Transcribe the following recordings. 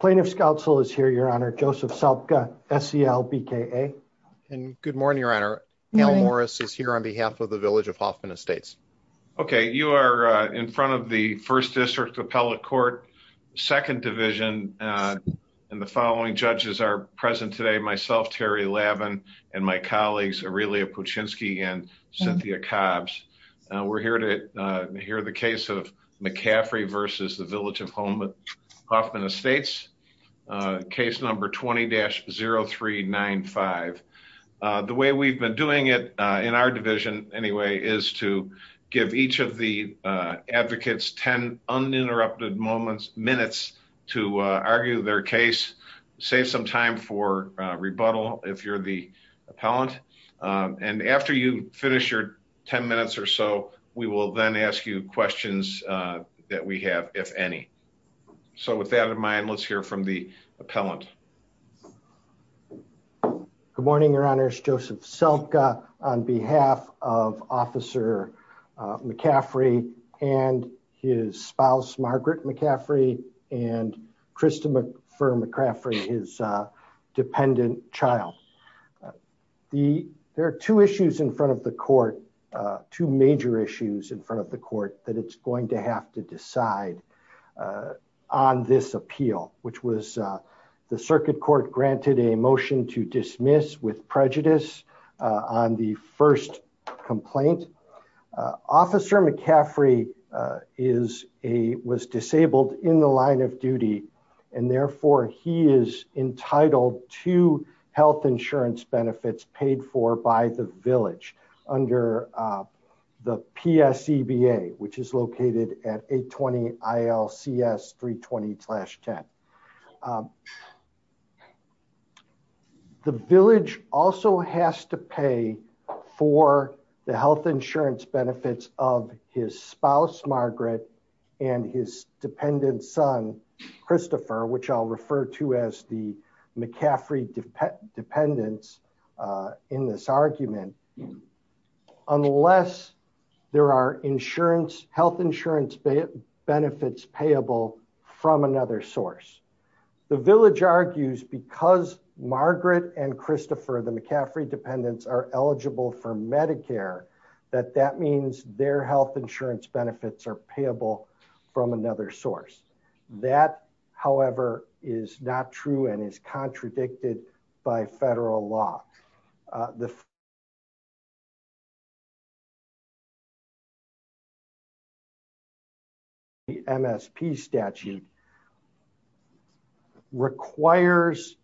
Plaintiff's counsel is here, your honor, Joseph Salpka, SELBKA. Good morning, your honor. Al Morris is here on behalf of the Village of Hoffman Estates. Okay, you are in front of the 1st District Appellate Court, 2nd Division, and the following judges are present today. Myself, Terry Lavin, and my colleagues, Aurelia Puchinski and Cynthia Cobbs. We're here to hear the case of McCaffrey v. The Village of Hoffman Estates, case number 20-0395. The way we've been doing it in our division, anyway, is to give each of the advocates 10 uninterrupted minutes to argue their case, save some time for rebuttal if you're the appellant. And after you finish your 10 minutes or so, we will then ask you questions that we have, if any. So with that in mind, let's hear from the appellant. Good morning, your honors. Joseph Salpka on behalf of Officer McCaffrey and his spouse, Margaret McCaffrey, and Krista McCaffrey, his dependent child. There are two issues in front of the court, two major issues in front of the court that it's going to have to decide on this appeal, which was the circuit court granted a motion to dismiss with prejudice on the first complaint. Officer McCaffrey was disabled in the line of duty, and therefore he is entitled to health insurance benefits paid for by the village under the PSEBA, which is located at 820-ILCS-320-10. The village also has to pay for the health insurance benefits of his spouse, Margaret, and his dependent son, Christopher, which I'll refer to as the McCaffrey dependents in this argument, unless there are health insurance benefits payable from another source. The village argues because Margaret and Christopher, the McCaffrey dependents, are eligible for Medicare, that that means their health insurance benefits are payable from another source. That, however, is not true and is contradicted by federal law. The MSP statute requires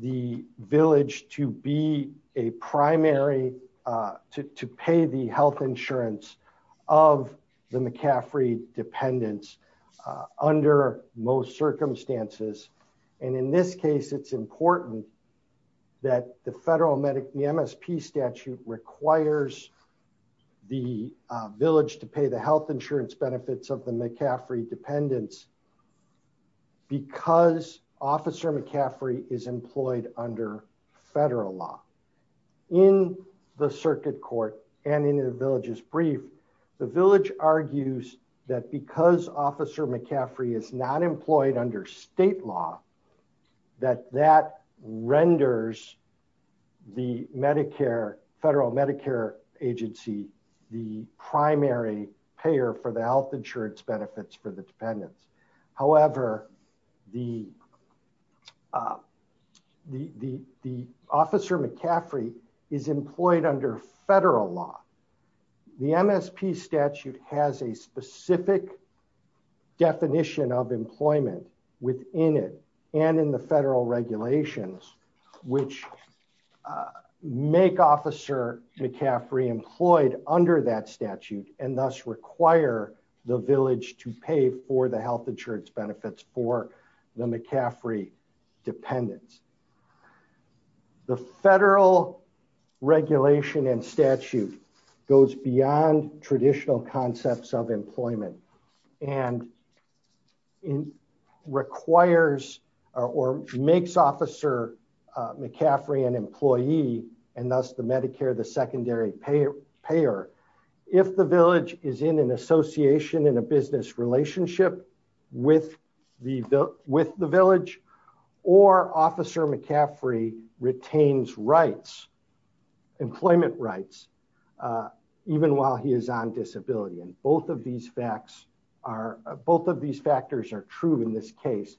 the village to pay the health insurance of the McCaffrey dependents under most circumstances. In this case, it's important that the federal MSP statute requires the village to pay the health insurance benefits of the McCaffrey dependents because Officer McCaffrey is employed under federal law. In the circuit court and in the village's brief, the village argues that because Officer McCaffrey is not employed under state law, that that renders the federal Medicare agency the primary payer for the health insurance benefits for the dependents. However, the Officer McCaffrey is employed under federal law. The MSP statute has a specific definition of employment within it and in the federal regulations, which make Officer McCaffrey employed under that statute and thus require the village to pay for the health insurance benefits for the McCaffrey dependents. The federal regulation and statute goes beyond traditional concepts of employment and it requires or makes Officer McCaffrey an employee and thus the Medicare the secondary payer. If the village is in an association in a business relationship with the village or Officer McCaffrey retains rights, employment rights, even while he is on disability. And both of these facts are both of these factors are true in this case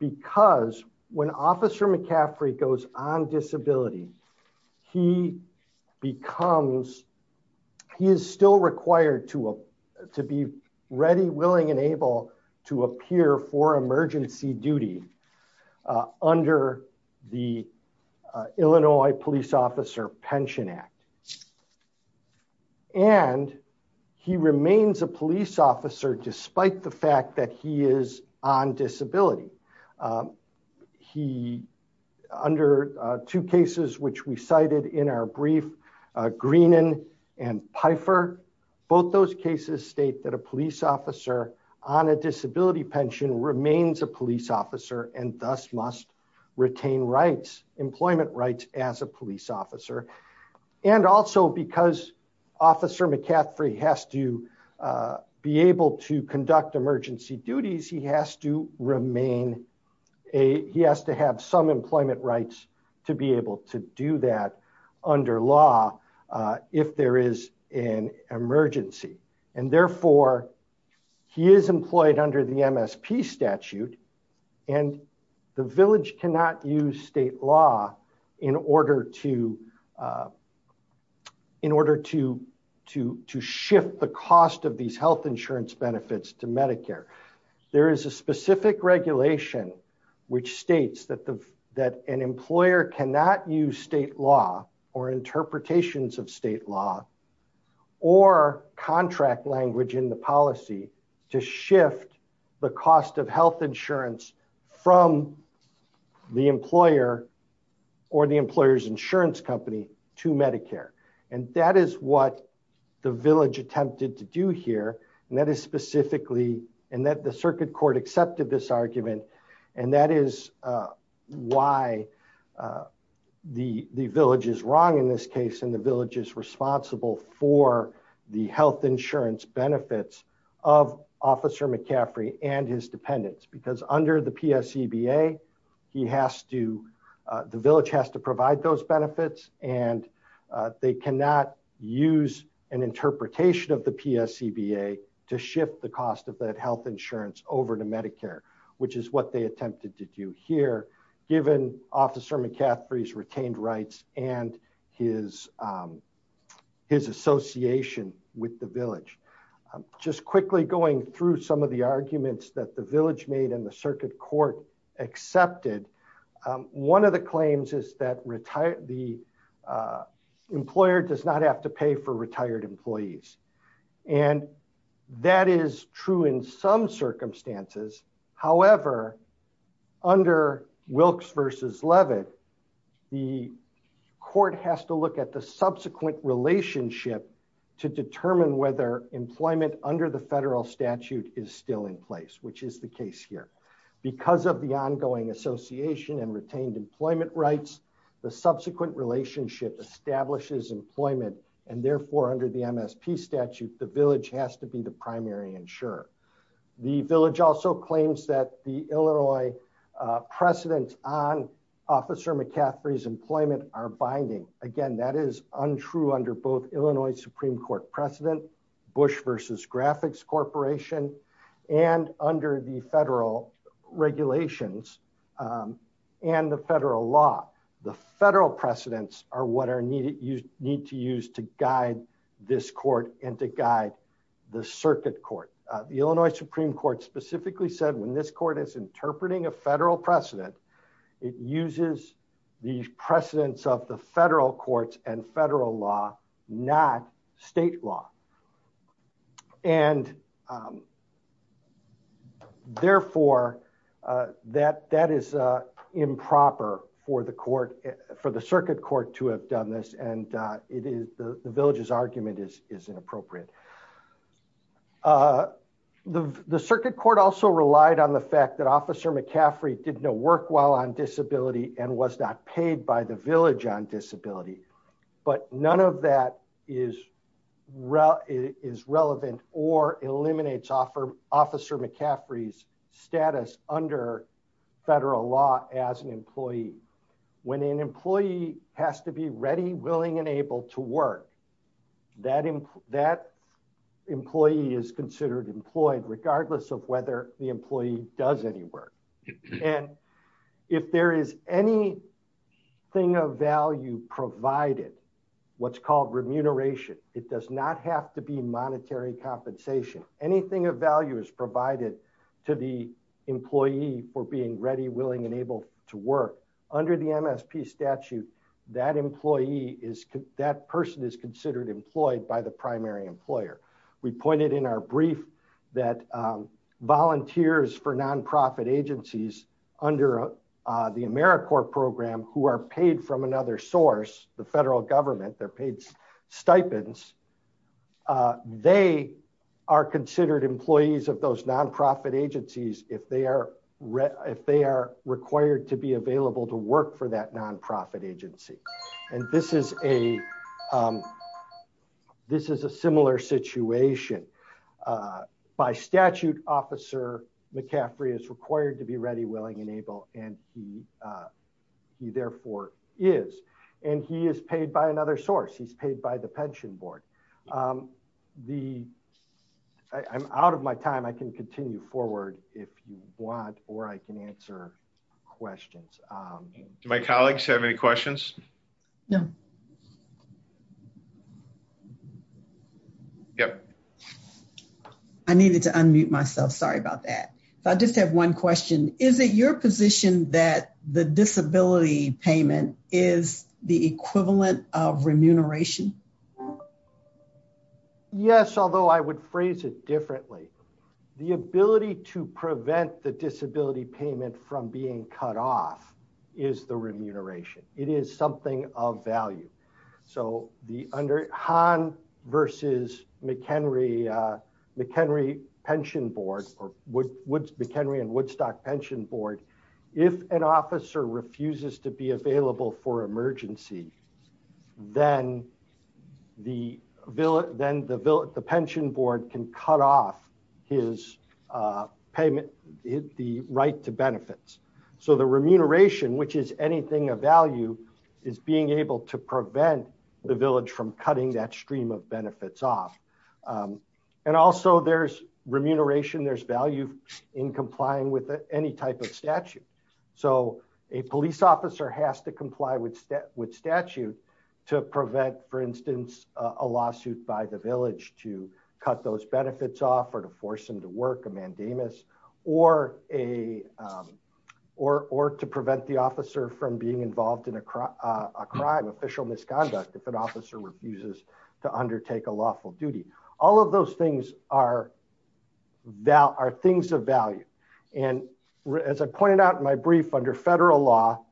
because when Officer McCaffrey goes on disability, he becomes he is still required to be ready, willing and able to appear for emergency duty under the Illinois Police Officer Pension Act. And he remains a police officer, despite the fact that he is on disability. He under two cases, which we cited in our brief, Greenan and Pfeiffer, both those cases state that a police officer on a disability pension remains a police officer and thus must retain rights, as a police officer and also because Officer McCaffrey has to be able to conduct emergency duties, he has to remain a he has to have some employment rights to be able to do that under law. If there is an emergency and therefore he is employed under the MSP statute and the village cannot use state law in order to in order to to to shift the cost of these health insurance benefits to Medicare. There is a specific regulation which states that the that an employer cannot use state law or interpretations of state law or contract language in the policy to shift the cost of health insurance from the employer or the employer's insurance company to Medicare. And that is what the village attempted to do here. And that is specifically and that the circuit court accepted this argument. And that is why the village is wrong in this case in the village is responsible for the health insurance benefits of Officer McCaffrey and his dependents, because under the PSCBA, he has to the village has to provide those benefits and they cannot use an interpretation of the PSCBA to shift the cost of that health insurance over to Medicare, which is what they attempted to do here, given Officer McCaffrey's retained rights and his his association with the village. Just quickly going through some of the arguments that the village made in the circuit court accepted. One of the claims is that the employer does not have to pay for retired employees. And that is true in some circumstances. However, under Wilkes versus Levitt, the court has to look at the subsequent relationship to determine whether employment under the federal statute is still in place, which is the case here. Because of the ongoing association and retained employment rights, the subsequent relationship establishes employment and therefore under the MSP statute, the village has to be the primary insurer. The village also claims that the Illinois precedent on Officer McCaffrey's employment are binding. Again, that is untrue under both Illinois Supreme Court precedent, Bush versus Graphics Corporation, and under the federal regulations and the federal law. The federal precedents are what are needed you need to use to guide this court and to guide the circuit court, the Illinois Supreme Court specifically said when this court is interpreting a federal precedent. It uses the precedents of the federal courts and federal law, not state law. And therefore, that that is improper for the court for the circuit court to have done this and it is the village's argument is is inappropriate. The circuit court also relied on the fact that Officer McCaffrey did not work well on disability and was not paid by the village on disability. But none of that is relevant or eliminates Officer McCaffrey's status under federal law as an employee. When an employee has to be ready, willing and able to work, that employee is considered employed regardless of whether the employee does any work. And if there is any thing of value provided what's called remuneration, it does not have to be monetary compensation, anything of value is provided to the employee for being ready, willing and able to work under the MSP statute. That employee is that person is considered employed by the primary employer. We pointed in our brief that volunteers for nonprofit agencies under the AmeriCorps program who are paid from another source, the federal government, they're paid stipends. They are considered employees of those nonprofit agencies if they are if they are required to be available to work for that nonprofit agency. And this is a This is a similar situation. By statute, Officer McCaffrey is required to be ready, willing and able and he therefore is. And he is paid by another source. He's paid by the pension board. I'm out of my time. I can continue forward if you want, or I can answer questions. Do my colleagues have any questions? No. Yep. I needed to unmute myself. Sorry about that. I just have one question. Is it your position that the disability payment is the equivalent of remuneration. Yes, although I would phrase it differently. The ability to prevent the disability payment from being cut off is the remuneration. It is something of value. So the under Han versus McHenry McHenry pension board or would would McHenry and Woodstock pension board. If an officer refuses to be available for emergency. Then the village, then the village, the pension board can cut off his payment hit the right to benefits. So the remuneration, which is anything of value is being able to prevent the village from cutting that stream of benefits off. And also there's remuneration, there's value in complying with any type of statute. So a police officer has to comply with with statute to prevent, for instance, a lawsuit by the village to cut those benefits off or to force them to work a mandamus or a Or, or to prevent the officer from being involved in a crime official misconduct. If an officer refuses to undertake a lawful duty, all of those things are Val are things of value. And as I pointed out in my brief under federal law.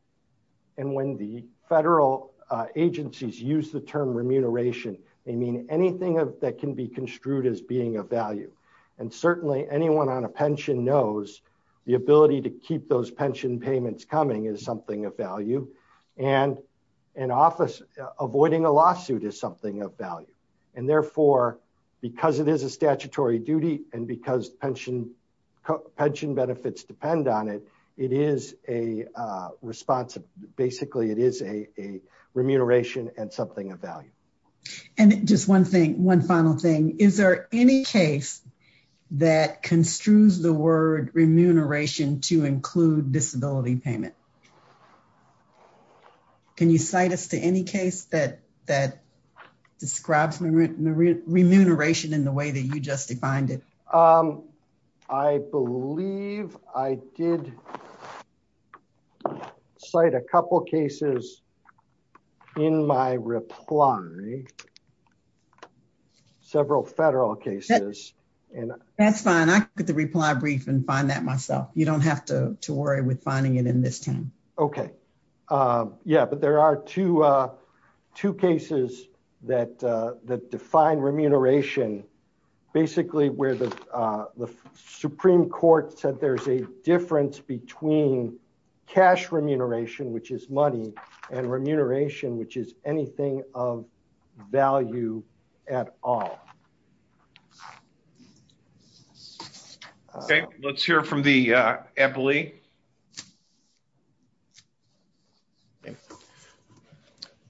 And when the federal agencies use the term remuneration. I mean, anything that can be construed as being a value. And certainly anyone on a pension knows the ability to keep those pension payments coming is something of value and Avoiding a lawsuit is something of value and therefore because it is a statutory duty and because pension pension benefits depend on it. It is a responsive. Basically, it is a remuneration and something of value. And just one thing. One final thing. Is there any case that construes the word remuneration to include disability payment. Can you cite us to any case that that describes memory remuneration in the way that you just defined it. I believe I did. Cite a couple cases. In my reply. Several federal cases. That's fine. I get the reply brief and find that myself. You don't have to worry with finding it in this time. Okay. Yeah, but there are two two cases that that define remuneration basically where the Supreme Court said there's a difference between cash remuneration, which is money and remuneration, which is anything of value at all. Okay, let's hear from the Emily.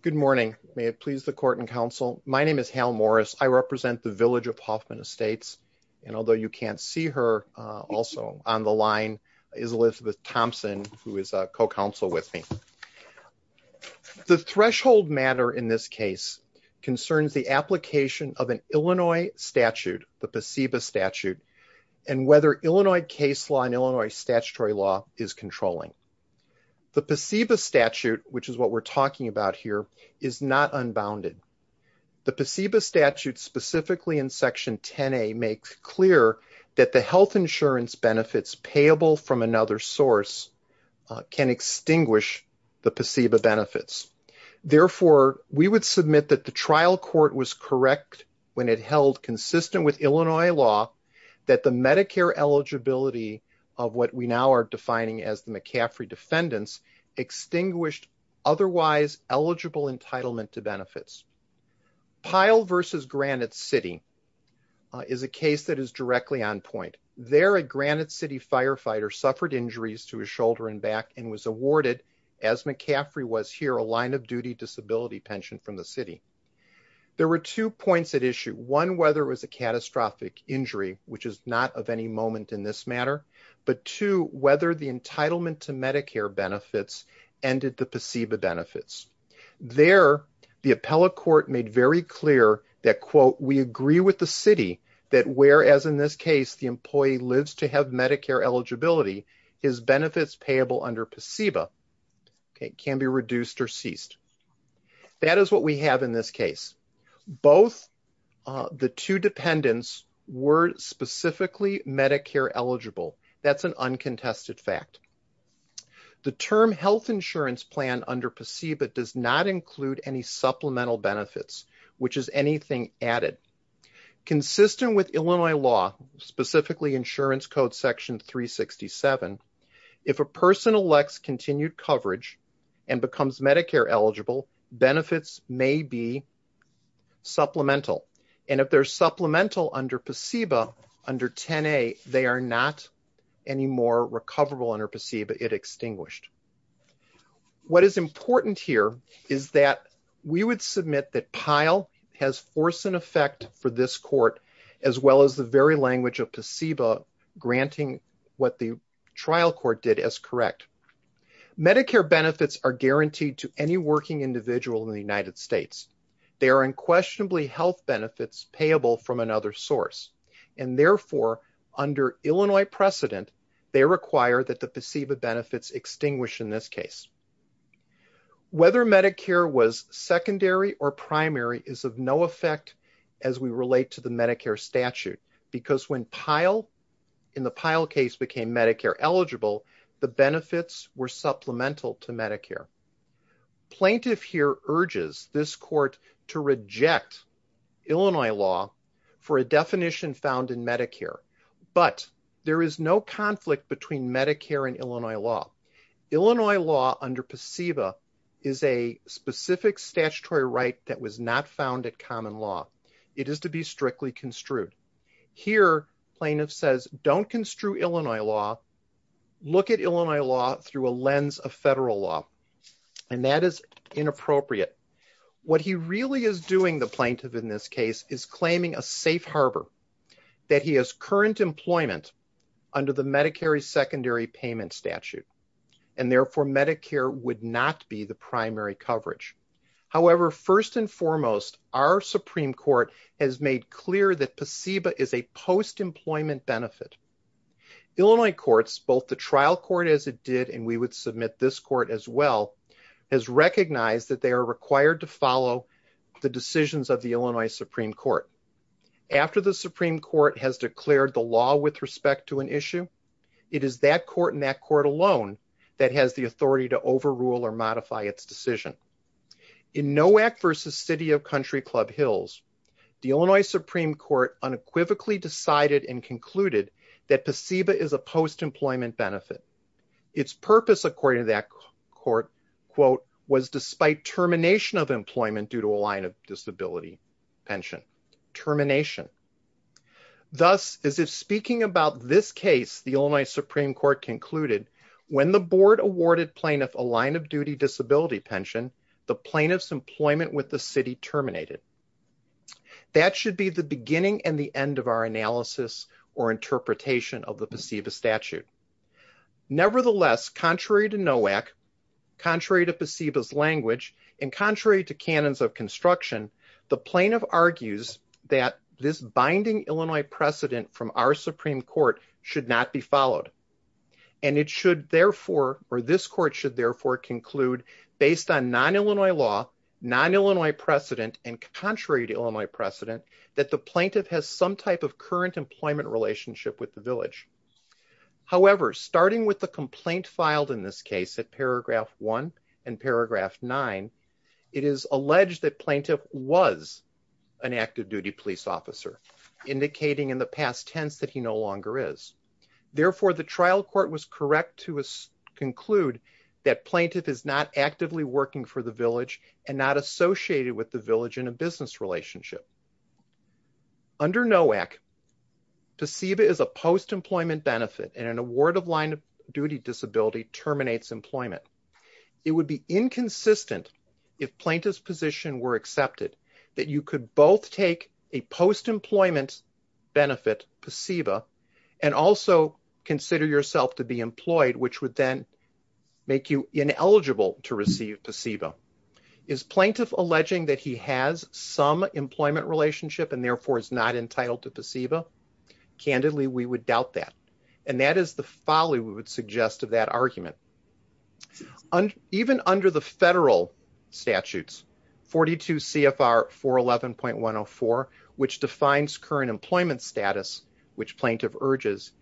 Good morning. May it please the court and counsel. My name is Hal Morris. I represent the village of Hoffman estates and although you can't see her also on the line is Elizabeth Thompson, who is a co counsel with me. The threshold matter in this case concerns the application of an Illinois statute, the placebo statute and whether Illinois case law in Illinois statutory law is controlling the placebo statute, which is what we're talking about here is not unbounded. The placebo statute specifically in section 10 a makes clear that the health insurance benefits payable from another source can extinguish the placebo benefits. Therefore, we would submit that the trial court was correct when it held consistent with Illinois law that the Medicare eligibility of what we now are defining as the McCaffrey defendants extinguished otherwise eligible entitlement to benefits. Pyle versus Granite City is a case that is directly on point there at Granite City firefighter suffered injuries to his shoulder and back and was awarded as McCaffrey was here a line of duty disability pension from the city. There were two points at issue one whether it was a catastrophic injury, which is not of any moment in this matter, but to whether the entitlement to Medicare benefits ended the placebo benefits there. The appellate court made very clear that quote we agree with the city that whereas in this case, the employee lives to have Medicare eligibility is benefits payable under placebo. It can be reduced or ceased. That is what we have in this case. Both the two dependents were specifically Medicare eligible. That's an uncontested fact. The term health insurance plan under placebo does not include any supplemental benefits, which is anything added. Consistent with Illinois law, specifically insurance code section 367. If a person elects continued coverage and becomes Medicare eligible benefits may be supplemental. And if they're supplemental under placebo under 10 a they are not any more recoverable under placebo it extinguished. What is important here is that we would submit that pile has force and effect for this court as well as the very language of placebo granting what the trial court did as correct. Medicare benefits are guaranteed to any working individual in the United States. They are unquestionably health benefits payable from another source and therefore under Illinois precedent. They require that the placebo benefits extinguish in this case. Whether Medicare was secondary or primary is of no effect as we relate to the Medicare statute because when pile in the pile case became Medicare eligible. The benefits were supplemental to Medicare. Plaintiff here urges this court to reject Illinois law for a definition found in Medicare, but there is no conflict between Medicare and Illinois law. Illinois law under placebo is a specific statutory right that was not found at common law. It is to be strictly construed. Here plaintiff says don't construe Illinois law. Look at Illinois law through a lens of federal law and that is inappropriate. What he really is doing the plaintiff in this case is claiming a safe Harbor that he has current employment under the Medicare secondary payment statute and therefore Medicare would not be the primary coverage. However, first and foremost, our Supreme Court has made clear that placebo is a post employment benefit. Illinois courts both the trial court as it did and we would submit this court as well as recognize that they are required to follow the decisions of the Illinois Supreme Court. After the Supreme Court has declared the law with respect to an issue. It is that court in that court alone that has the authority to overrule or modify its decision. In no act versus City of Country Club Hills, the Illinois Supreme Court unequivocally decided and concluded that placebo is a post employment benefit. Its purpose according to that court quote was despite termination of employment due to a line of disability pension termination. Thus, as if speaking about this case, the only Supreme Court concluded when the board awarded plaintiff a line of duty disability pension the plaintiff's employment with the city terminated. That should be the beginning and the end of our analysis or interpretation of the placebo statute. Nevertheless, contrary to no act contrary to placebo's language and contrary to cannons of construction. The plaintiff argues that this binding Illinois precedent from our Supreme Court should not be followed. And it should therefore or this court should therefore conclude based on non Illinois law non Illinois precedent and contrary to Illinois precedent that the plaintiff has some type of current employment relationship with the village. However, starting with the complaint filed in this case at paragraph one and paragraph nine. It is alleged that plaintiff was an active duty police officer indicating in the past tense that he no longer is. Therefore, the trial court was correct to conclude that plaintiff is not actively working for the village and not associated with the village in a business relationship. Under NOAC, placebo is a post employment benefit and an award of line of duty disability terminates employment. It would be inconsistent if plaintiff's position were accepted that you could both take a post employment benefit placebo and also consider yourself to be employed, which would then make you ineligible to receive placebo. Is plaintiff alleging that he has some employment relationship and therefore is not entitled to placebo? Candidly, we would doubt that. And that is the folly we would suggest of that argument. And even under the federal statutes, 42 CFR 411.104, which defines current employment status, which plaintiff urges,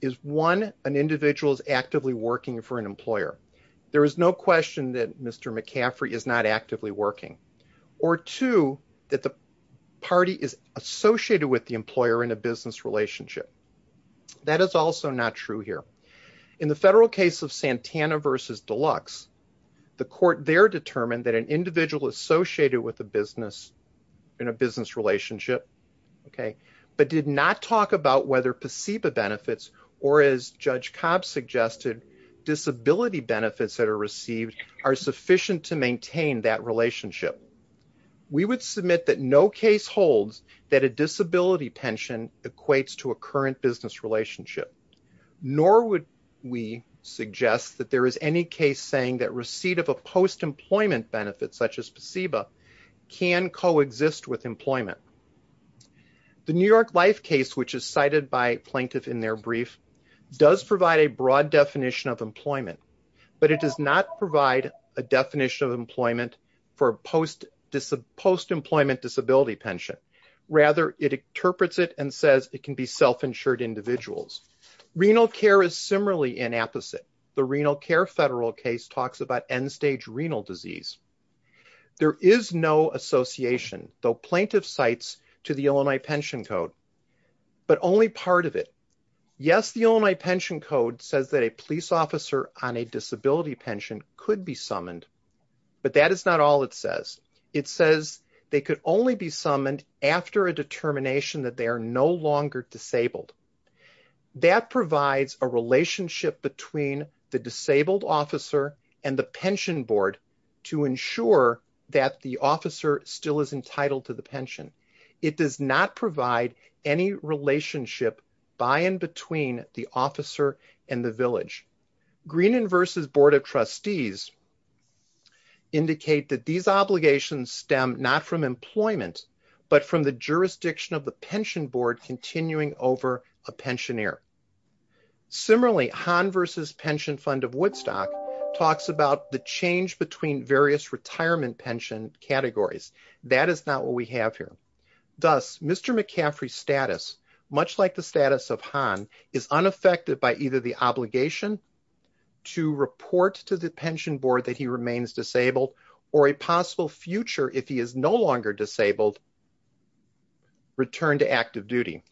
is one an individual's actively working for an employer. There is no question that Mr. McCaffrey is not actively working or two, that the party is associated with the employer in a business relationship. That is also not true here in the federal case of Santana versus Deluxe. The court there determined that an individual associated with a business in a business relationship, but did not talk about whether placebo benefits or as Judge Cobb suggested, disability benefits that are received are sufficient to maintain that relationship. We would submit that no case holds that a disability pension equates to a current business relationship. Nor would we suggest that there is any case saying that receipt of a post-employment benefit such as placebo can coexist with employment. The New York Life case, which is cited by plaintiff in their brief, does provide a broad definition of employment. But it does not provide a definition of employment for post-employment disability pension. Rather, it interprets it and says it can be self-insured individuals. Renal care is similarly inapposite. The renal care federal case talks about end-stage renal disease. There is no association, though plaintiff cites to the Illinois Pension Code, but only part of it. Yes, the Illinois Pension Code says that a police officer on a disability pension could be summoned. But that is not all it says. It says they could only be summoned after a determination that they are no longer disabled. That provides a relationship between the disabled officer and the pension board to ensure that the officer still is entitled to the pension. It does not provide any relationship by and between the officer and the village. Greenan v. Board of Trustees indicate that these obligations stem not from employment, but from the jurisdiction of the pension board continuing over a pensioner. Similarly, Hahn v. Pension Fund of Woodstock talks about the change between various retirement pension categories. That is not what we have here. Thus, Mr. McCaffrey's status, much like the status of Hahn, is unaffected by either the obligation to report to the pension board that he remains disabled, or a possible future, if he is no longer disabled, return to active duty.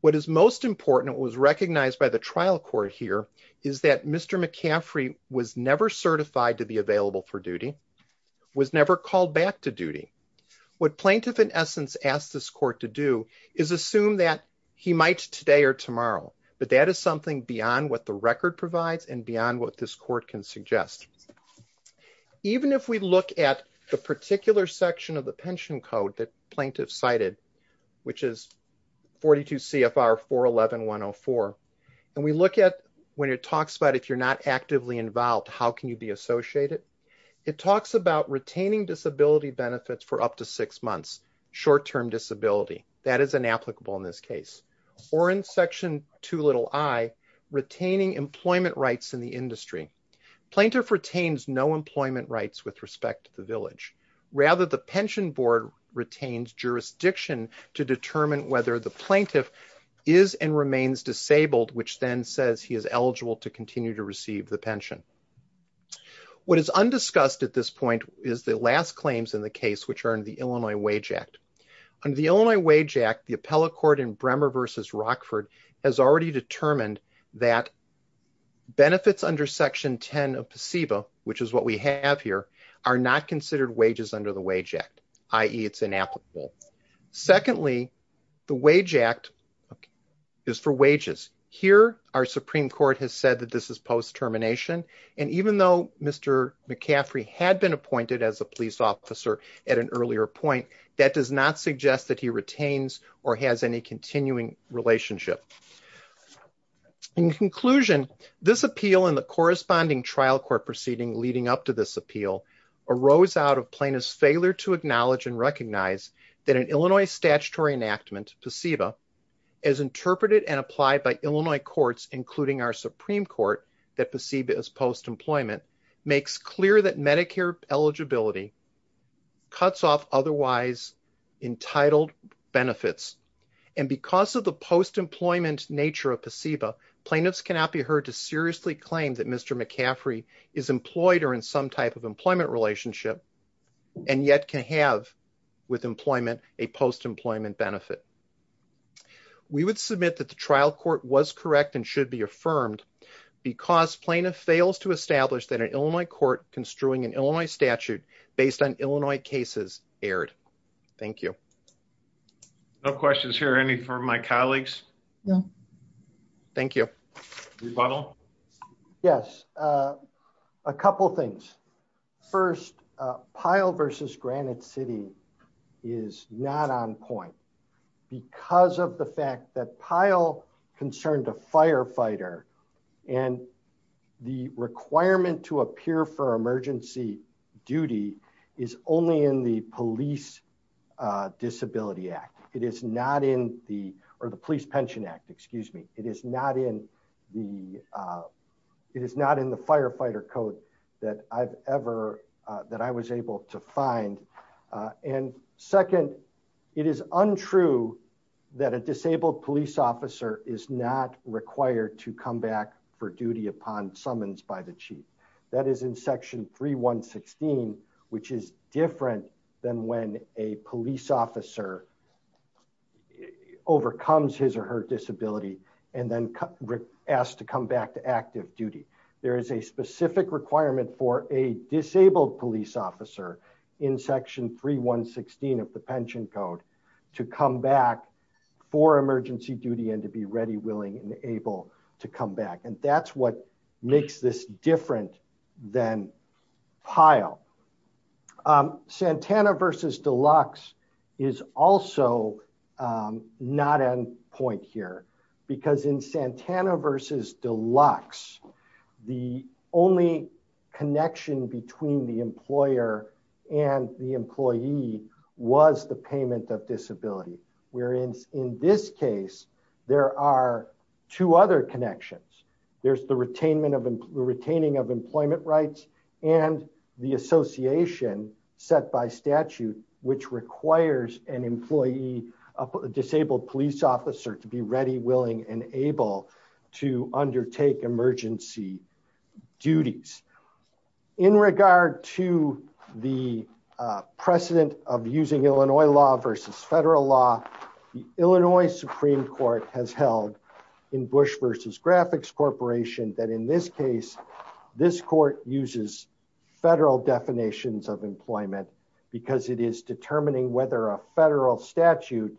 What is most important and was recognized by the trial court here is that Mr. McCaffrey was never certified to be available for duty, was never called back to duty. What plaintiff, in essence, asked this court to do is assume that he might today or tomorrow, but that is something beyond what the record provides and beyond what this court can suggest. Even if we look at the particular section of the pension code that plaintiff cited, which is 42 CFR 411104, and we look at when it talks about if you're not actively involved, how can you be associated? It talks about retaining disability benefits for up to six months, short-term disability. That is inapplicable in this case. Or in section 2 little I, retaining employment rights in the industry. Plaintiff retains no employment rights with respect to the village. Rather, the pension board retains jurisdiction to determine whether the plaintiff is and remains disabled, which then says he is eligible to continue to receive the pension. What is undiscussed at this point is the last claims in the case, which are in the Illinois Wage Act. Under the Illinois Wage Act, the appellate court in Bremer v. Rockford has already determined that benefits under section 10 of PSEBA, which is what we have here, are not considered wages under the Wage Act, i.e. it's inapplicable. Secondly, the Wage Act is for wages. Here, our Supreme Court has said that this is post-termination. And even though Mr. McCaffrey had been appointed as a police officer at an earlier point, that does not suggest that he retains or has any continuing relationship. In conclusion, this appeal and the corresponding trial court proceeding leading up to this appeal arose out of plaintiff's failure to acknowledge and recognize that an Illinois statutory enactment, PSEBA, as interpreted and applied by Illinois courts, including our Supreme Court, that PSEBA is post-employment, makes clear that Medicare eligibility cuts off otherwise entitled benefits. And because of the post-employment nature of PSEBA, plaintiffs cannot be heard to seriously claim that Mr. McCaffrey is employed or in some type of employment relationship and yet can have, with employment, a post-employment benefit. We would submit that the trial court was correct and should be affirmed because plaintiff fails to establish that an Illinois court construing an Illinois statute based on Illinois cases erred. Thank you. No questions here. Any from my colleagues? No. Thank you. Rebuttal? Yes. A couple things. First, Pyle v. Granite City is not on point because of the fact that Pyle concerned a firefighter And the requirement to appear for emergency duty is only in the Police Disability Act. It is not in the, or the Police Pension Act, excuse me. It is not in the, it is not in the firefighter code that I've ever, that I was able to find. And second, it is untrue that a disabled police officer is not required to come back for duty upon summons by the chief. That is in Section 3116, which is different than when a police officer overcomes his or her disability and then asked to come back to active duty. There is a specific requirement for a disabled police officer in Section 3116 of the pension code to come back for emergency duty and to be ready, willing, and able to come back. And that's what makes this different than Pyle. Santana v. Deluxe is also not on point here because in Santana v. Deluxe, the only connection between the employer and the employee was the payment of disability. Whereas in this case, there are two other connections. There's the retaining of employment rights and the association set by statute, which requires an employee, a disabled police officer, to be ready, willing, and able to undertake emergency duties. In regard to the precedent of using Illinois law versus federal law, the Illinois Supreme Court has held in Bush v. Graphics Corporation that in this case, this court uses federal definitions of employment because it is determining whether a federal statute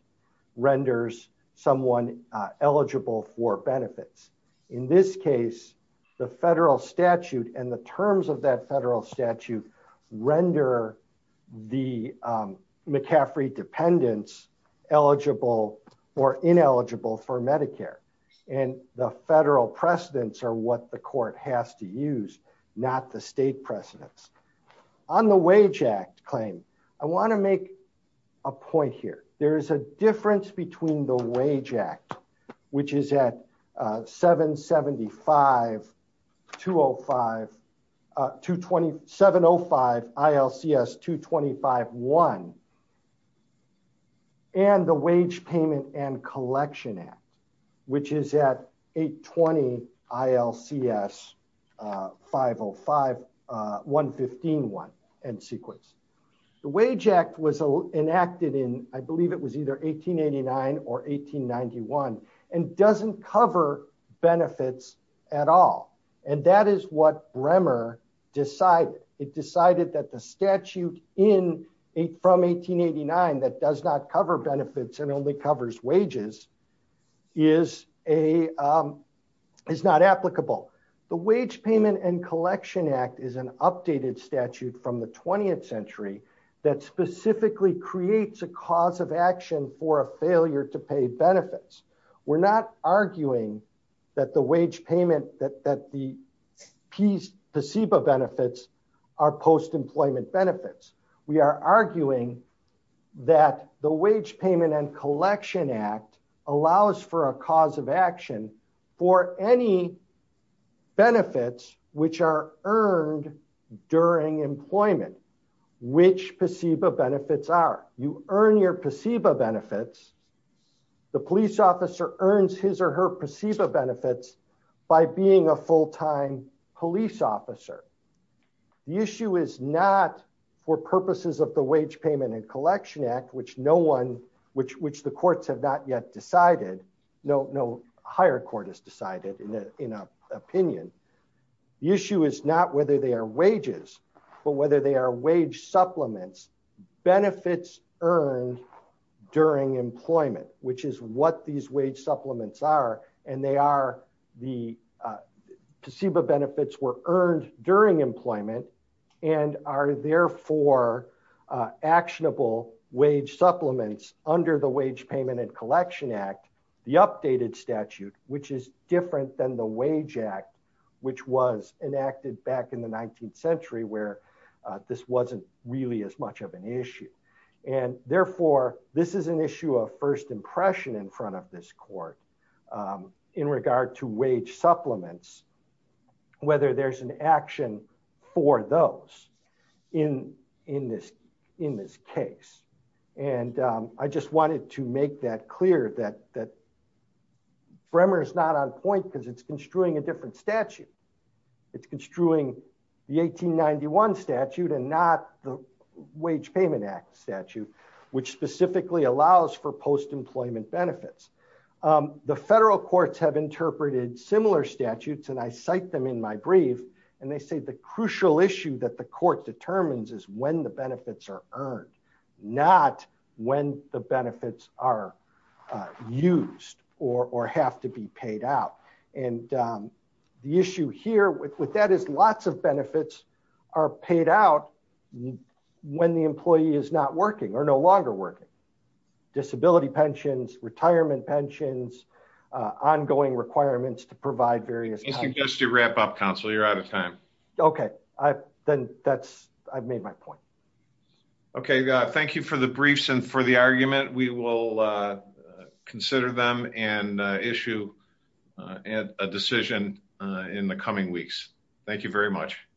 renders someone eligible for benefits. In this case, the federal statute and the terms of that federal statute render the McCaffrey dependents eligible or ineligible for Medicare. And the federal precedents are what the court has to use, not the state precedents. On the Wage Act claim, I want to make a point here. There is a difference between the Wage Act, which is at 775-205, 705-ILCS-225-1, and the Wage Payment and Collection Act, which is at 820-ILCS-505-133. The Wage Act was enacted in, I believe it was either 1889 or 1891, and doesn't cover benefits at all. And that is what Bremer decided. It decided that the statute from 1889 that does not cover benefits and only covers wages is not applicable. The Wage Payment and Collection Act is an updated statute from the 20th century that specifically creates a cause of action for a failure to pay benefits. We're not arguing that the wage payment, that the PSEBA benefits are post-employment benefits. We are arguing that the Wage Payment and Collection Act allows for a cause of action for any benefits which are earned during employment. We're not arguing which PSEBA benefits are. You earn your PSEBA benefits. The police officer earns his or her PSEBA benefits by being a full-time police officer. The issue is not for purposes of the Wage Payment and Collection Act, which no one, which the courts have not yet decided, no higher court has decided in an opinion. The issue is not whether they are wages, but whether they are wage supplements, benefits earned during employment, which is what these wage supplements are. The PSEBA benefits were earned during employment and are therefore actionable wage supplements under the Wage Payment and Collection Act, the updated statute, which is different than the Wage Act, which was enacted back in the 19th century where this wasn't really as much of an issue. Therefore, this is an issue of first impression in front of this court in regard to wage supplements, whether there's an action for those in this case. I just wanted to make that clear that Bremer is not on point because it's construing a different statute. It's construing the 1891 statute and not the Wage Payment Act statute, which specifically allows for post-employment benefits. The federal courts have interpreted similar statutes, and I cite them in my brief, and they say the crucial issue that the court determines is when the benefits are earned, not when the benefits are used or have to be paid out. The issue here with that is lots of benefits are paid out when the employee is not working or no longer working. Disability pensions, retirement pensions, ongoing requirements to provide various... Just to wrap up, counsel, you're out of time. Okay, then I've made my point. Okay, thank you for the briefs and for the argument. We will consider them and issue a decision in the coming weeks. Thank you very much.